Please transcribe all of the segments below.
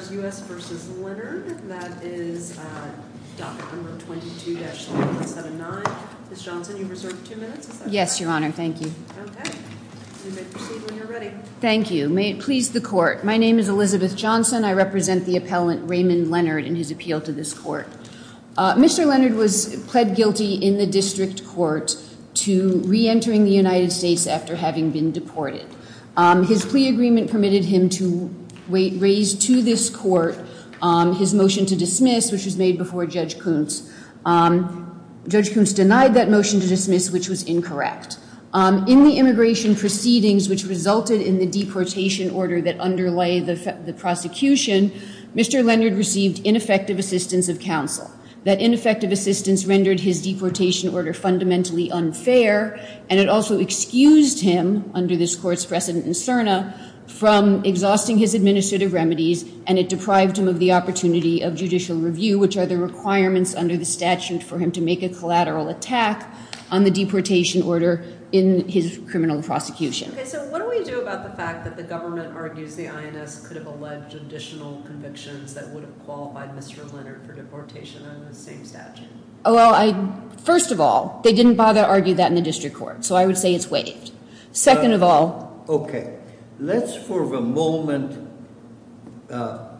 May it please the court. My name is Elizabeth Johnson. I represent the appellant Raymond Leonard in his appeal to this court. Mr. Leonard was pled guilty in the district court to re-entering the United States after having been deported. His plea agreement permitted him to raise to this court his motion to dismiss which was made before Judge Koontz. Judge Koontz denied that motion to dismiss which was incorrect. In the immigration proceedings which resulted in the deportation order that underlay the prosecution, Mr. Leonard received ineffective assistance of counsel. That ineffective assistance rendered his deportation order fundamentally unfair and it also excused him under this court's precedent in CERNA from exhausting his administrative remedies and it deprived him of the opportunity of judicial review which are the requirements under the statute for him to make a collateral attack on the deportation order in his criminal prosecution. Okay, so what do we do about the fact that the government argues the INS could have alleged additional convictions that would have qualified Mr. Leonard for deportation under the same statute? Well, first of all, they didn't bother to argue that in the district court, so I would say it's waived. Second of all... Okay, let's for the moment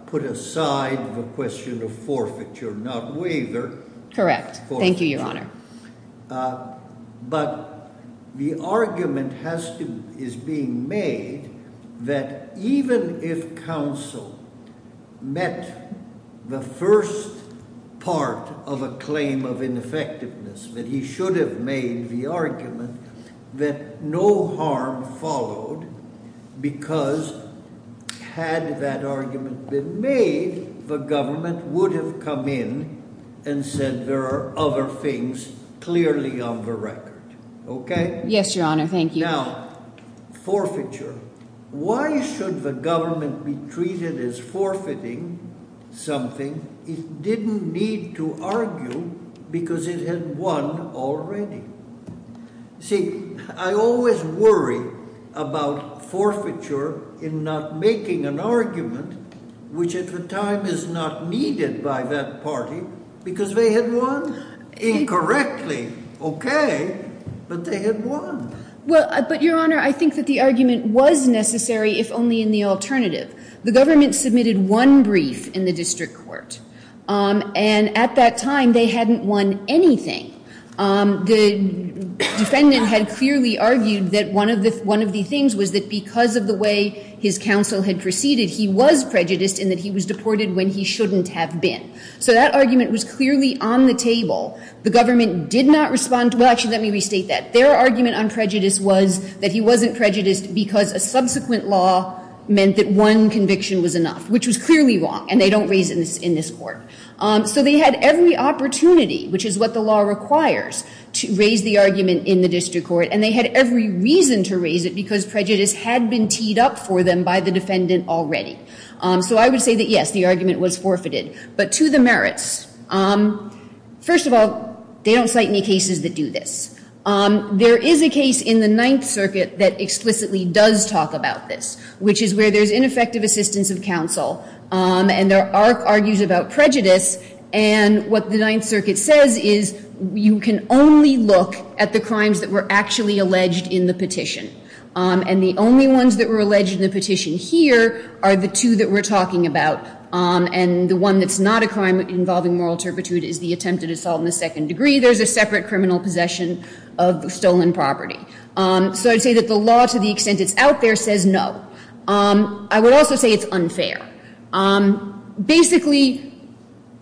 put aside the question of forfeiture, not waiver. Correct. Thank you, Your Honor. But the argument is being made that even if counsel met the first part of a claim of ineffectiveness that he should have made the argument that no harm followed because had that argument been made, the government would have come in and said there are other things clearly on the record. Okay? Yes, Your Honor. Thank you. Now, forfeiture. Why should the government be treated as forfeiting something it didn't need to argue because it had won already? See, I always worry about forfeiture in not making an argument which at the time is not needed by that party because they had won incorrectly. Okay, but they had won. Well, but, Your Honor, I think that the argument was necessary if only in the alternative. The government submitted one brief in the district court, and at that time they hadn't won anything. The defendant had clearly argued that one of the things was that because of the way his counsel had proceeded, he was prejudiced and that he was deported when he shouldn't have been. So that argument was clearly on the table. The government did not respond to it. Well, actually, let me restate that. Their argument on prejudice was that he wasn't prejudiced because a subsequent law meant that one conviction was enough, which was clearly wrong, and they don't raise it in this court. So they had every opportunity, which is what the law requires, to raise the argument in the district court, and they had every reason to raise it because prejudice had been teed up for them by the defendant already. So I would say that, yes, the argument was forfeited. But to the merits, first of all, they don't cite any cases that do this. There is a case in the Ninth Circuit that explicitly does talk about this, which is where there's ineffective assistance of counsel, and there are argues about prejudice, and what the Ninth Circuit says is you can only look at the crimes that were actually alleged in the petition. And the only ones that were alleged in the petition here are the two that we're talking about. And the one that's not a crime involving moral turpitude is the attempted assault in the second degree. There's a separate criminal possession of stolen property. So I'd say that the law, to the extent it's out there, says no. I would also say it's unfair. Basically,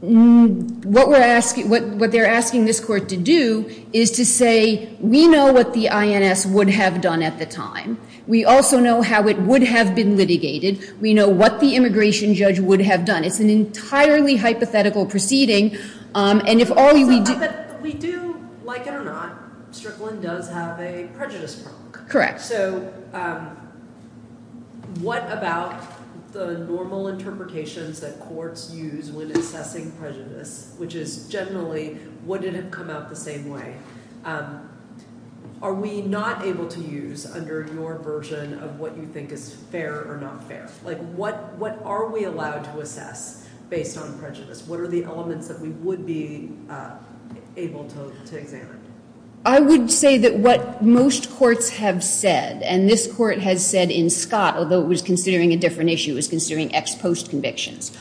what they're asking this court to do is to say, we know what the INS would have done at the time. We also know how it would have been litigated. We know what the immigration judge would have done. It's an entirely hypothetical proceeding, and if all we do- But we do, like it or not, Strickland does have a prejudice problem. Correct. All right, so what about the normal interpretations that courts use when assessing prejudice, which is generally, would it have come out the same way? Are we not able to use under your version of what you think is fair or not fair? Like, what are we allowed to assess based on prejudice? What are the elements that we would be able to examine? I would say that what most courts have said, and this court has said in Scott, although it was considering a different issue, it was considering ex post convictions,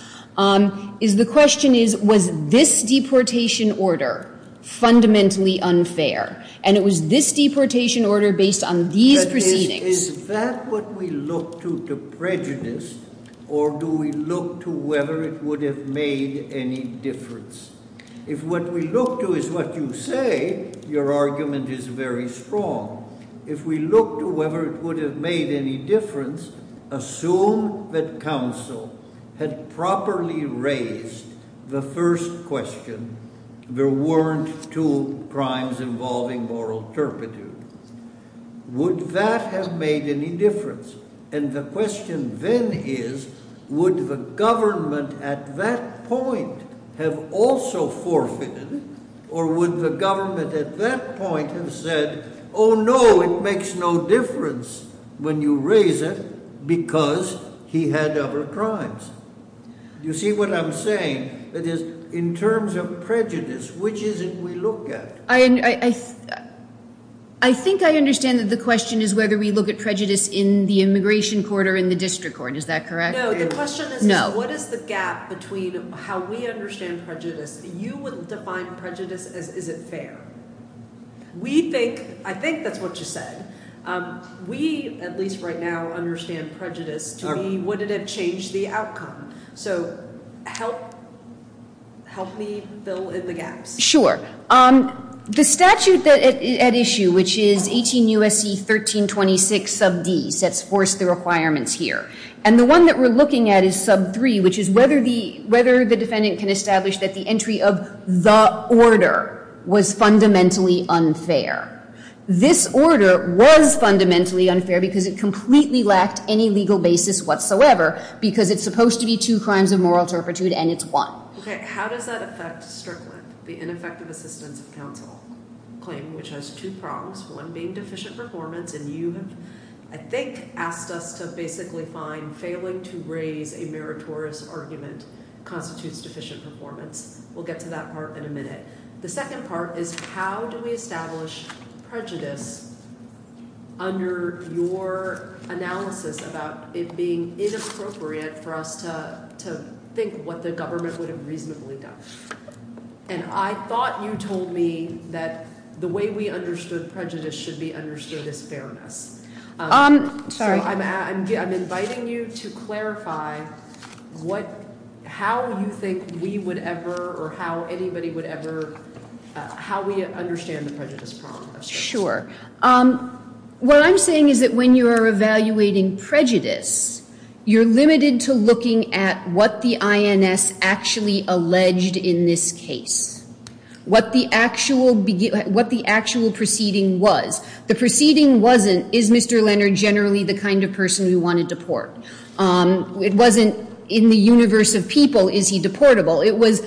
is the question is, was this deportation order fundamentally unfair? And it was this deportation order based on these proceedings- But is that what we look to to prejudice, or do we look to whether it would have made any difference? If what we look to is what you say, your argument is very strong. If we look to whether it would have made any difference, assume that counsel had properly raised the first question, there weren't two crimes involving moral turpitude. Would that have made any difference? And the question then is, would the government at that point have also forfeited, or would the government at that point have said, oh no, it makes no difference when you raise it because he had other crimes? You see what I'm saying? That is, in terms of prejudice, which is it we look at? I think I understand that the question is whether we look at prejudice in the immigration court or in the district court. Is that correct? No, the question is, what is the gap between how we understand prejudice? You would define prejudice as, is it fair? I think that's what you said. We, at least right now, understand prejudice to be, would it have changed the outcome? So help me fill in the gaps. Sure. The statute at issue, which is 18 U.S.C. 1326, sub D, sets forth the requirements here. And the one that we're looking at is sub 3, which is whether the defendant can establish that the entry of the order was fundamentally unfair. This order was fundamentally unfair because it completely lacked any legal basis whatsoever, because it's supposed to be two crimes of moral turpitude, and it's one. Okay. How does that affect Strickland, the ineffective assistance of counsel claim, which has two prongs, one being deficient performance, and you have, I think, asked us to basically find failing to raise a meritorious argument constitutes deficient performance. We'll get to that part in a minute. The second part is how do we establish prejudice under your analysis about it being inappropriate for us to think what the government would have reasonably done? And I thought you told me that the way we understood prejudice should be understood as fairness. Sorry. I'm inviting you to clarify how you think we would ever or how anybody would ever, how we understand the prejudice problem. Sure. What I'm saying is that when you are evaluating prejudice, you're limited to looking at what the INS actually alleged in this case, what the actual proceeding was. The proceeding wasn't, is Mr. Leonard generally the kind of person we want to deport? It wasn't, in the universe of people, is he deportable? It was,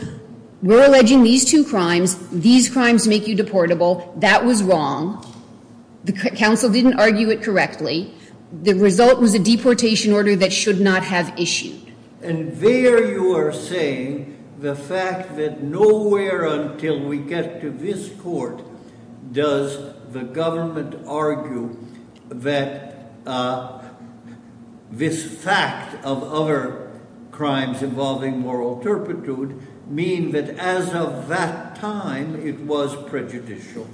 we're alleging these two crimes. These crimes make you deportable. That was wrong. The counsel didn't argue it correctly. The result was a deportation order that should not have issued. And there you are saying the fact that nowhere until we get to this court does the government argue that this fact of other crimes involving moral turpitude mean that as of that time it was prejudicial.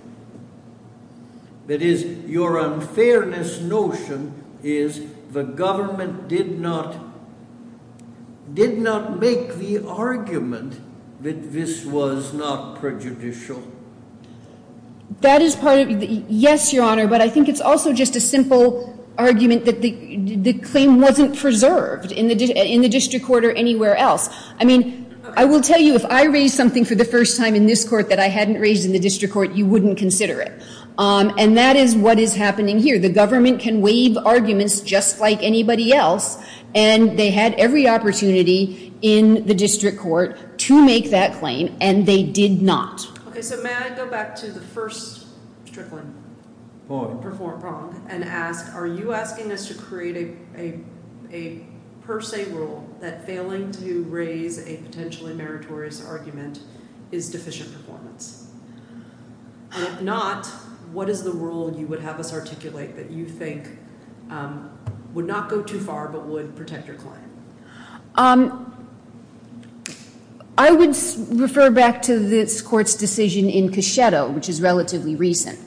That is, your unfairness notion is the government did not make the argument that this was not prejudicial. That is part of it. Yes, Your Honor, but I think it's also just a simple argument that the claim wasn't preserved in the district court or anywhere else. I mean, I will tell you, if I raised something for the first time in this court that I hadn't raised in the district court, you wouldn't consider it. And that is what is happening here. The government can waive arguments just like anybody else, and they had every opportunity in the district court to make that claim, and they did not. Okay, so may I go back to the first strickling point and ask, are you asking us to create a per se rule that failing to raise a potentially meritorious argument is deficient performance? And if not, what is the rule you would have us articulate that you think would not go too far but would protect your client? I would refer back to this court's decision in Cachetto, which is relatively recent.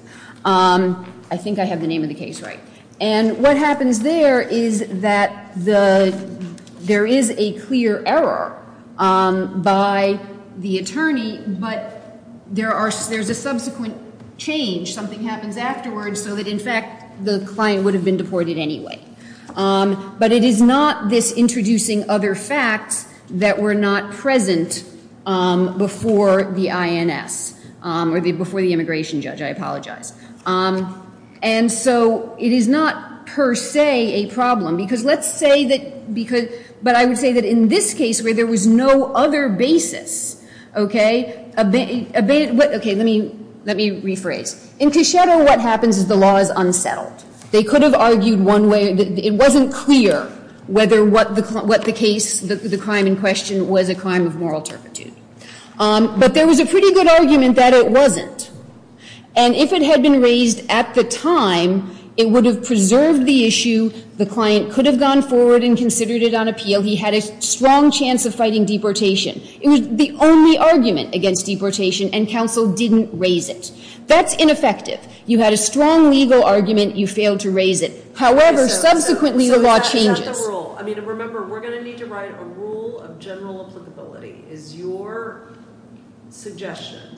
I think I have the name of the case right. And what happens there is that there is a clear error by the attorney, but there's a subsequent change. Something happens afterwards so that, in fact, the client would have been deported anyway. But it is not this introducing other facts that were not present before the INS, or before the immigration judge. I apologize. And so it is not per se a problem because let's say that, but I would say that in this case where there was no other basis, okay, let me rephrase. In Cachetto, what happens is the law is unsettled. They could have argued one way. It wasn't clear whether what the case, the crime in question was a crime of moral turpitude. But there was a pretty good argument that it wasn't. And if it had been raised at the time, it would have preserved the issue. The client could have gone forward and considered it on appeal. He had a strong chance of fighting deportation. It was the only argument against deportation, and counsel didn't raise it. That's ineffective. You had a strong legal argument. You failed to raise it. However, subsequently the law changes. So is that the rule? I mean, remember, we're going to need to write a rule of general applicability. Is your suggestion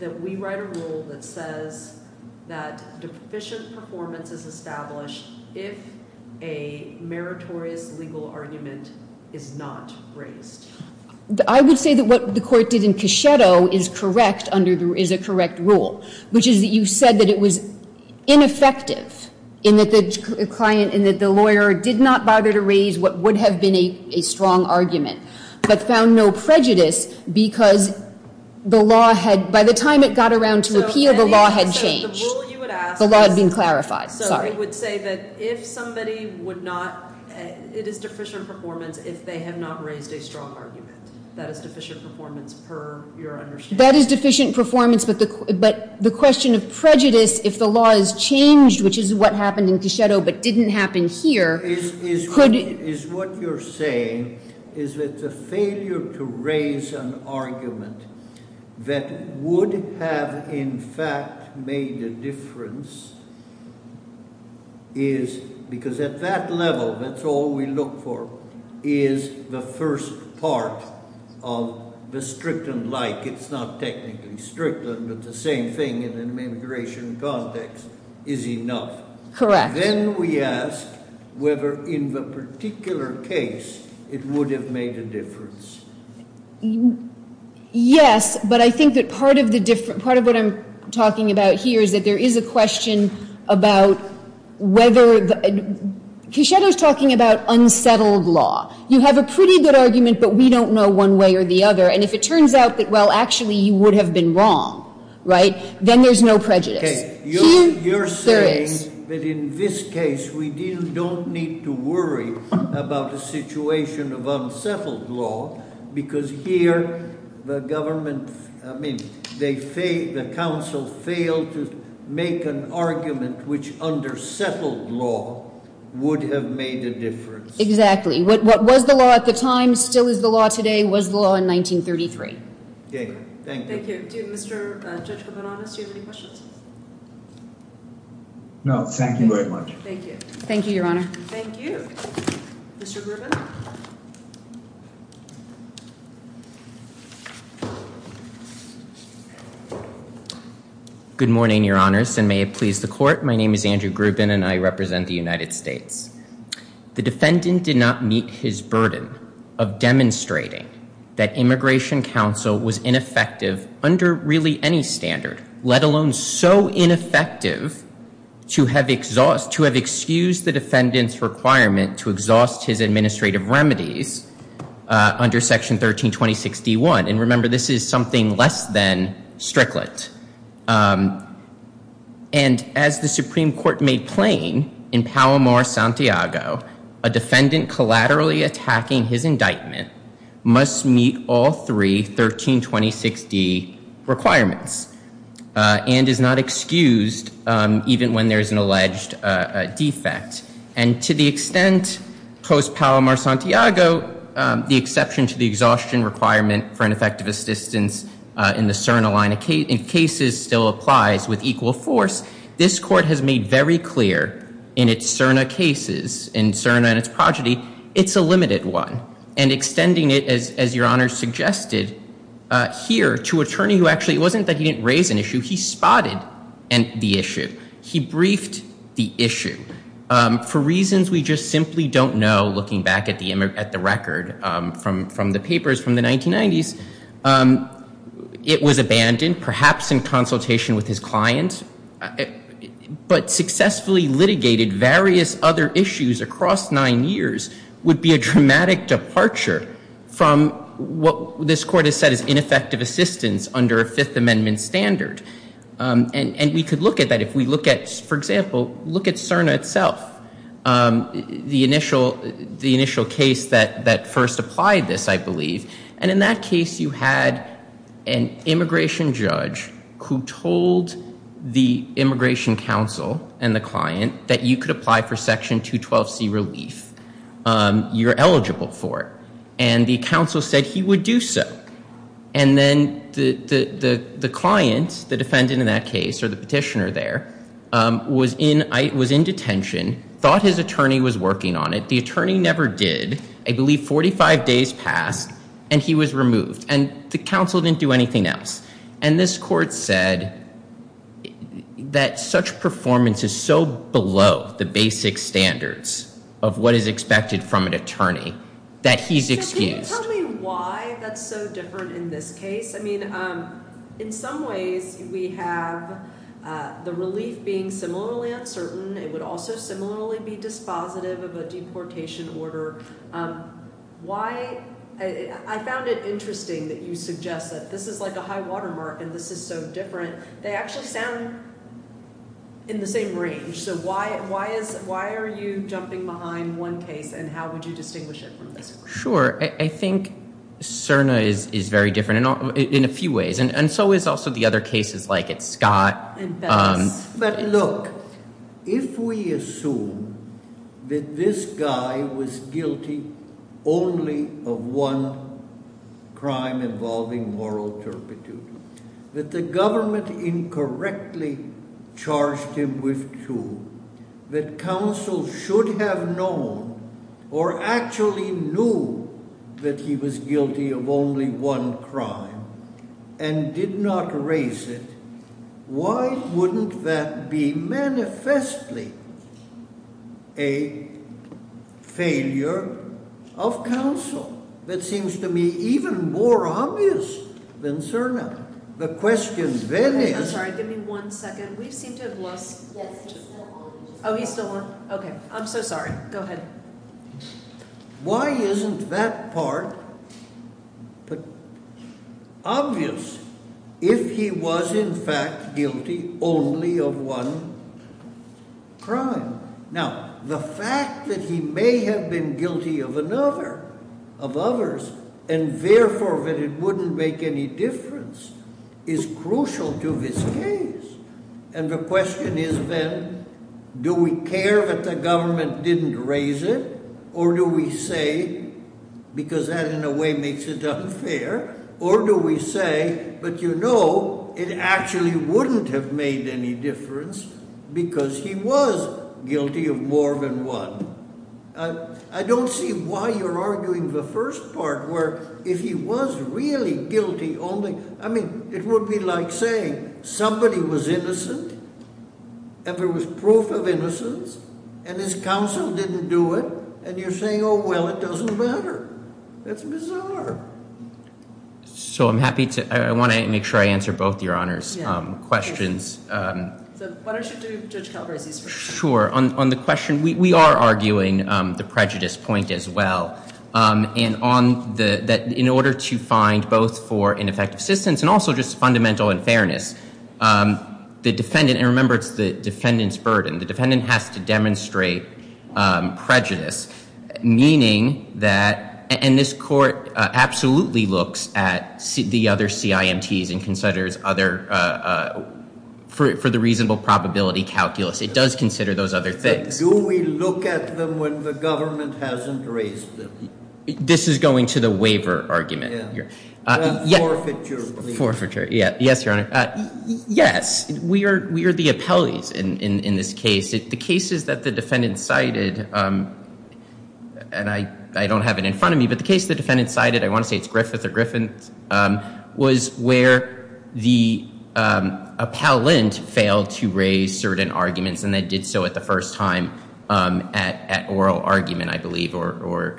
that we write a rule that says that deficient performance is established if a meritorious legal argument is not raised? I would say that what the court did in Cachetto is correct, is a correct rule, which is that you said that it was ineffective in that the lawyer did not bother to raise what would have been a strong argument but found no prejudice because the law had, by the time it got around to appeal, the law had changed. The law had been clarified. Sorry. So it would say that if somebody would not, it is deficient performance if they have not raised a strong argument. That is deficient performance per your understanding? That is deficient performance, but the question of prejudice, if the law has changed, which is what happened in Cachetto but didn't happen here. Is what you're saying is that the failure to raise an argument that would have in fact made a difference is, because at that level, that's all we look for, is the first part of the strict and like. It's not technically strict, but the same thing in an immigration context is enough. Correct. Then we ask whether in the particular case it would have made a difference. Yes, but I think that part of what I'm talking about here is that there is a question about whether, Cachetto is talking about unsettled law. You have a pretty good argument, but we don't know one way or the other, and if it turns out that, well, actually you would have been wrong, right, then there's no prejudice. You're saying that in this case we don't need to worry about the situation of unsettled law, because here the council failed to make an argument which under settled law would have made a difference. Exactly. What was the law at the time still is the law today, was the law in 1933. Okay, thank you. Mr. Grubin, do you have any questions? No, thank you very much. Thank you. Thank you, Your Honor. Thank you. Mr. Grubin. Good morning, Your Honors, and may it please the Court. My name is Andrew Grubin, and I represent the United States. The defendant did not meet his burden of demonstrating that immigration counsel was ineffective under really any standard, let alone so ineffective to have excused the defendant's requirement to exhaust his administrative remedies under Section 1326D1. And remember, this is something less than Strickland. And as the Supreme Court made plain in Palomar-Santiago, a defendant collaterally attacking his indictment must meet all three 1326D requirements and is not excused even when there is an alleged defect. And to the extent post-Palomar-Santiago, the exception to the exhaustion requirement for ineffective assistance in the CERNA line of cases still applies with equal force, this Court has made very clear in its CERNA cases, in CERNA and its progeny, it's a limited one. And extending it, as Your Honor suggested here, to an attorney who actually, it wasn't that he didn't raise an issue, he spotted the issue. He briefed the issue. For reasons we just simply don't know, looking back at the record from the papers from the 1990s, it was abandoned, perhaps in consultation with his client, but successfully litigated various other issues across nine years would be a dramatic departure from what this Court has said is ineffective assistance under a Fifth Amendment standard. And we could look at that. If we look at, for example, look at CERNA itself, the initial case that first applied this, I believe, and in that case you had an immigration judge who told the immigration counsel and the client that you could apply for Section 212C relief, you're eligible for it. And the counsel said he would do so. And then the client, the defendant in that case, or the petitioner there, was in detention, thought his attorney was working on it. The attorney never did. I believe 45 days passed, and he was removed. And the counsel didn't do anything else. And this Court said that such performance is so below the basic standards of what is expected from an attorney that he's excused. Can you tell me why that's so different in this case? I mean, in some ways we have the relief being similarly uncertain. It would also similarly be dispositive of a deportation order. Why? I found it interesting that you suggest that this is like a high-water mark and this is so different. They actually sound in the same range. So why are you jumping behind one case, and how would you distinguish it from this one? Sure. I think CERNA is very different in a few ways, and so is also the other cases like at Scott. But look, if we assume that this guy was guilty only of one crime involving moral turpitude, that the government incorrectly charged him with two, that counsel should have known or actually knew that he was guilty of only one crime and did not raise it, why wouldn't that be manifestly a failure of counsel? That seems to me even more obvious than CERNA. The question then is— I'm sorry. Give me one second. We seem to have lost— Yes, he's still on. Oh, he's still on? Okay. I'm so sorry. Go ahead. Why isn't that part obvious if he was in fact guilty only of one crime? Now, the fact that he may have been guilty of another, of others, and therefore that it wouldn't make any difference is crucial to this case. And the question is then, do we care that the government didn't raise it, or do we say, because that in a way makes it unfair, or do we say, but you know, it actually wouldn't have made any difference because he was guilty of more than one? I don't see why you're arguing the first part where if he was really guilty only— I mean, it would be like saying somebody was innocent and there was proof of innocence and his counsel didn't do it, and you're saying, oh, well, it doesn't matter. That's bizarre. So I'm happy to—I want to make sure I answer both your honors' questions. So why don't you do Judge Calabresi's first? Sure. On the question, we are arguing the prejudice point as well. And on the—that in order to find both for ineffective assistance and also just fundamental unfairness, the defendant— and remember, it's the defendant's burden. The defendant has to demonstrate prejudice, meaning that— and this court absolutely looks at the other CIMTs and considers other—for the reasonable probability calculus. It does consider those other things. Do we look at them when the government hasn't raised them? This is going to the waiver argument here. Forfeiture, please. Forfeiture. Yes, Your Honor. Yes, we are the appellees in this case. The cases that the defendant cited—and I don't have it in front of me, but the case the defendant cited—I want to say it's Griffith or Griffin— was where the appellant failed to raise certain arguments, and they did so at the first time at oral argument, I believe, or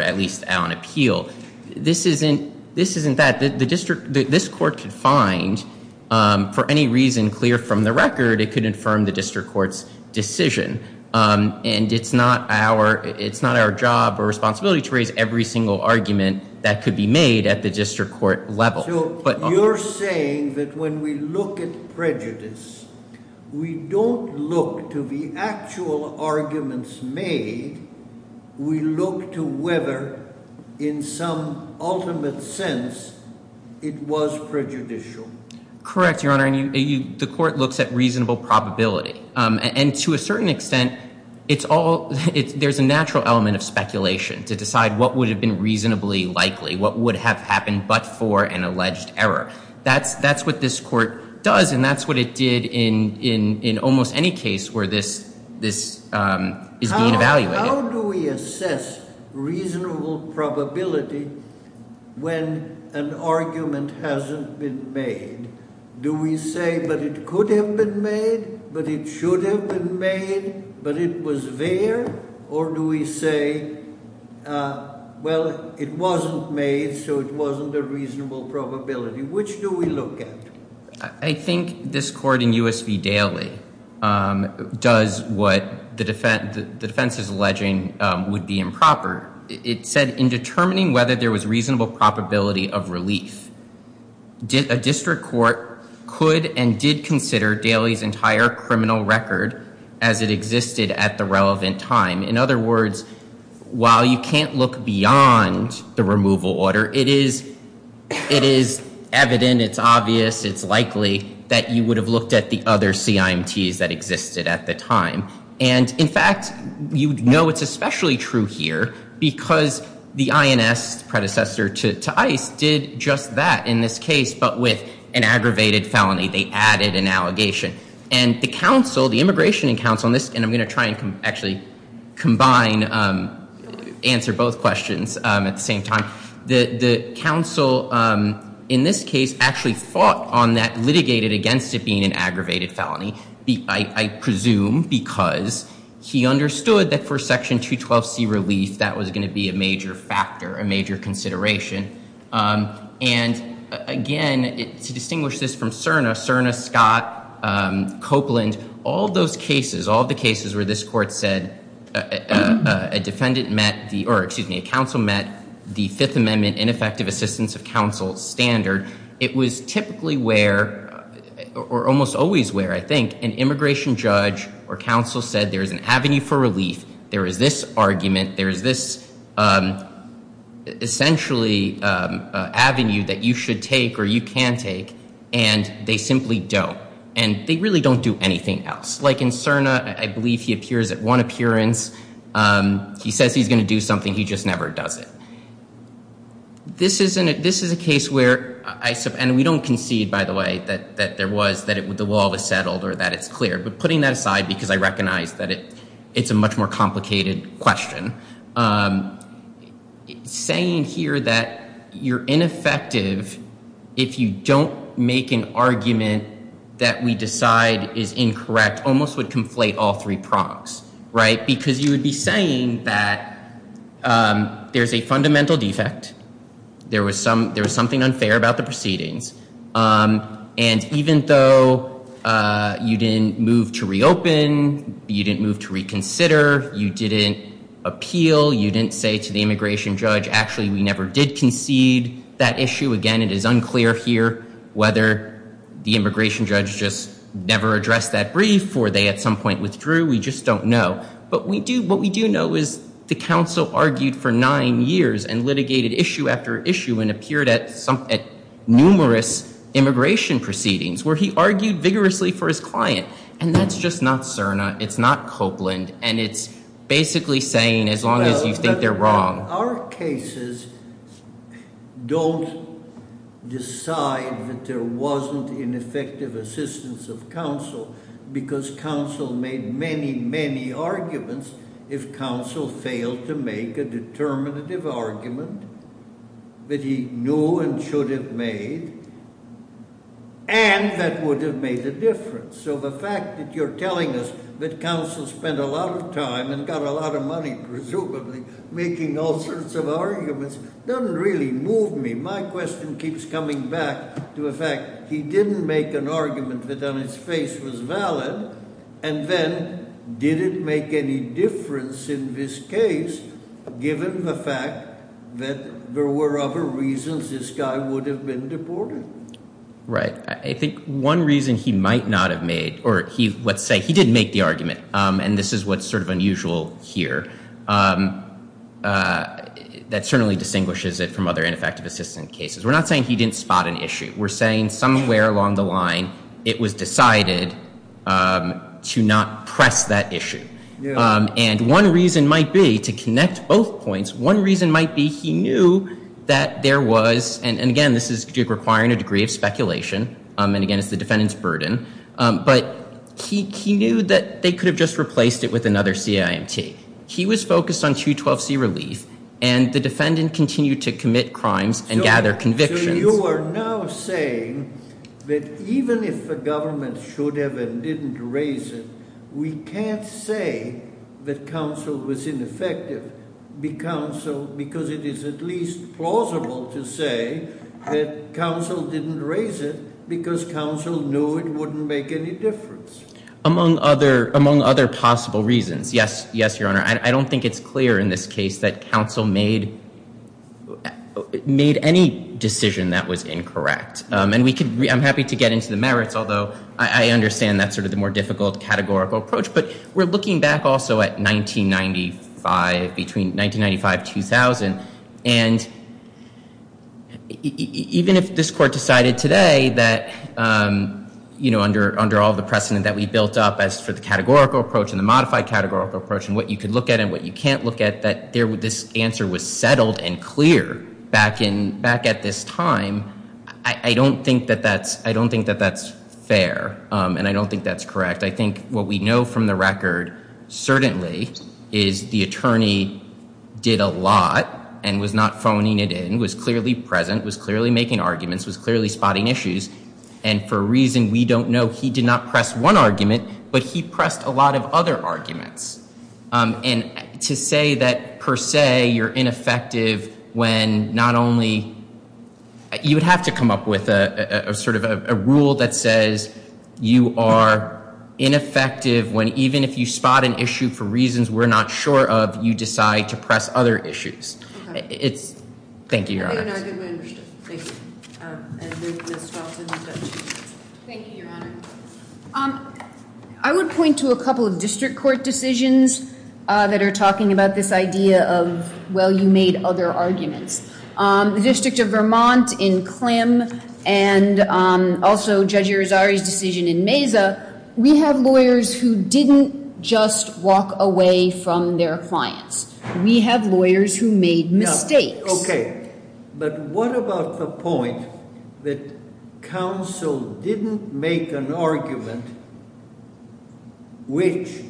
at least on appeal. This isn't that. The district—this court could find, for any reason clear from the record, it could infirm the district court's decision, and it's not our job or responsibility to raise every single argument that could be made at the district court level. So you're saying that when we look at prejudice, we don't look to the actual arguments made. We look to whether, in some ultimate sense, it was prejudicial. Correct, Your Honor. The court looks at reasonable probability, and to a certain extent there's a natural element of speculation to decide what would have been reasonably likely, what would have happened but for an alleged error. That's what this court does, and that's what it did in almost any case where this is being evaluated. How do we assess reasonable probability when an argument hasn't been made? Do we say, but it could have been made, but it should have been made, but it was there, or do we say, well, it wasn't made, so it wasn't a reasonable probability? Which do we look at? I think this court in U.S. v. Daly does what the defense is alleging would be improper. It said in determining whether there was reasonable probability of relief, a district court could and did consider Daly's entire criminal record as it existed at the relevant time. In other words, while you can't look beyond the removal order, it is evident, it's obvious, it's likely that you would have looked at the other CIMTs that existed at the time. In fact, you know it's especially true here because the INS predecessor to ICE did just that in this case, but with an aggravated felony. They added an allegation. And the immigration counsel, and I'm going to try and actually combine, answer both questions at the same time, the counsel in this case actually fought on that, litigated against it being an aggravated felony, I presume because he understood that for Section 212C relief that was going to be a major factor, a major consideration. And again, to distinguish this from CERNA, CERNA, Scott, Copeland, all those cases, all the cases where this court said a defendant met, or excuse me, a counsel met the Fifth Amendment ineffective assistance of counsel standard, it was typically where, or almost always where I think, an immigration judge or counsel said there is an avenue for relief, there is this argument, there is this essentially avenue that you should take or you can take, and they simply don't. And they really don't do anything else. Like in CERNA, I believe he appears at one appearance, he says he's going to do something, he just never does it. This is a case where, and we don't concede, by the way, that there was, that the wall was settled or that it's clear, but putting that aside because I recognize that it's a much more complicated question, saying here that you're ineffective if you don't make an argument that we decide is incorrect almost would conflate all three prongs, right? Because you would be saying that there's a fundamental defect, there was something unfair about the proceedings, and even though you didn't move to reopen, you didn't move to reconsider, you didn't appeal, you didn't say to the immigration judge, actually we never did concede that issue, again, it is unclear here whether the immigration judge just never addressed that brief or they at some point withdrew, we just don't know. But what we do know is the counsel argued for nine years and litigated issue after issue and appeared at numerous immigration proceedings where he argued vigorously for his client, and that's just not Cerna, it's not Copeland, and it's basically saying as long as you think they're wrong. Our cases don't decide that there wasn't ineffective assistance of counsel because counsel made many, many arguments if counsel failed to make a determinative argument that he knew and should have made and that would have made a difference. So the fact that you're telling us that counsel spent a lot of time and got a lot of money presumably making all sorts of arguments doesn't really move me. My question keeps coming back to the fact he didn't make an argument that on its face was valid, and then did it make any difference in this case given the fact that there were other reasons this guy would have been deported? Right. I think one reason he might not have made, or let's say he did make the argument, and this is what's sort of unusual here, that certainly distinguishes it from other ineffective assistance cases. We're not saying he didn't spot an issue. We're saying somewhere along the line it was decided to not press that issue. And one reason might be, to connect both points, one reason might be he knew that there was, and again this is requiring a degree of speculation, and again it's the defendant's burden, but he knew that they could have just replaced it with another CIMT. He was focused on 212C relief, and the defendant continued to commit crimes and gather convictions. So you are now saying that even if the government should have and didn't raise it, we can't say that counsel was ineffective because it is at least plausible to say that counsel didn't raise it because counsel knew it wouldn't make any difference. Among other possible reasons, yes, Your Honor. I don't think it's clear in this case that counsel made any decision that was incorrect. And I'm happy to get into the merits, although I understand that's sort of the more difficult categorical approach. But we're looking back also at 1995, between 1995-2000, and even if this Court decided today that, you know, under all the precedent that we built up as for the categorical approach and the modified categorical approach and what you could look at and what you can't look at, that this answer was settled and clear back at this time, I don't think that that's fair, and I don't think that's correct. I think what we know from the record certainly is the attorney did a lot and was not phoning it in, was clearly present, was clearly making arguments, was clearly spotting issues. And for a reason we don't know, he did not press one argument, but he pressed a lot of other arguments. And to say that per se you're ineffective when not only you would have to come up with sort of a rule that says you are ineffective when even if you spot an issue for reasons we're not sure of, you decide to press other issues. Thank you, Your Honor. I would point to a couple of district court decisions that are talking about this idea of, well, you made other arguments. The District of Vermont in Klim and also Judge Irizarry's decision in Mesa, we have lawyers who didn't just walk away from their clients. We have lawyers who made mistakes. Okay. But what about the point that counsel didn't make an argument which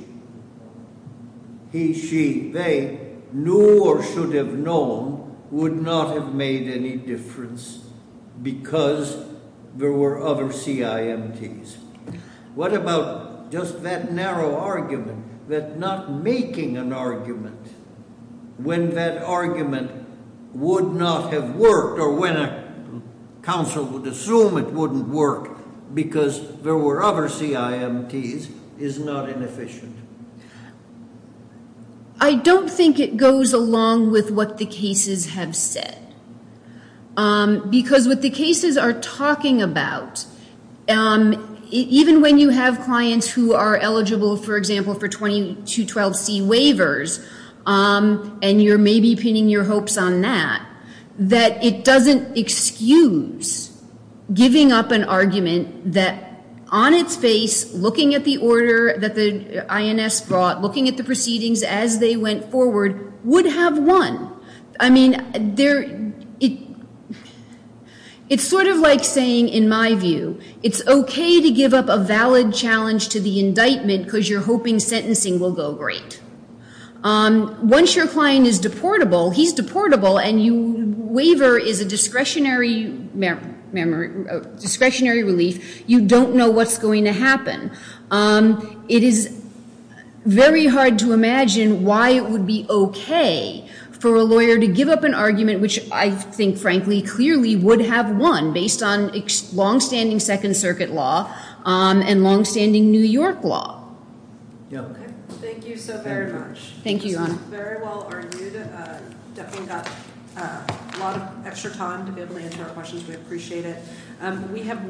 he, she, they knew or should have known would not have made any difference because there were other CIMTs? What about just that narrow argument that not making an argument when that argument would not have worked or when a counsel would assume it wouldn't work because there were other CIMTs is not inefficient? I don't think it goes along with what the cases have said. Because what the cases are talking about, even when you have clients who are eligible, for example, for 2212C waivers and you're maybe pinning your hopes on that, that it doesn't excuse giving up an argument that on its face, looking at the order that the INS brought, looking at the proceedings as they went forward, would have won. I mean, it's sort of like saying, in my view, it's okay to give up a valid challenge to the indictment because you're hoping sentencing will go great. Once your client is deportable, he's deportable, and your waiver is a discretionary relief, you don't know what's going to happen. It is very hard to imagine why it would be okay for a lawyer to give up an argument, which I think, frankly, clearly would have won based on longstanding Second Circuit law and longstanding New York law. Thank you so very much. Thank you, Your Honor. This was very well-argued. Definitely got a lot of extra time to be able to answer our questions. We appreciate it.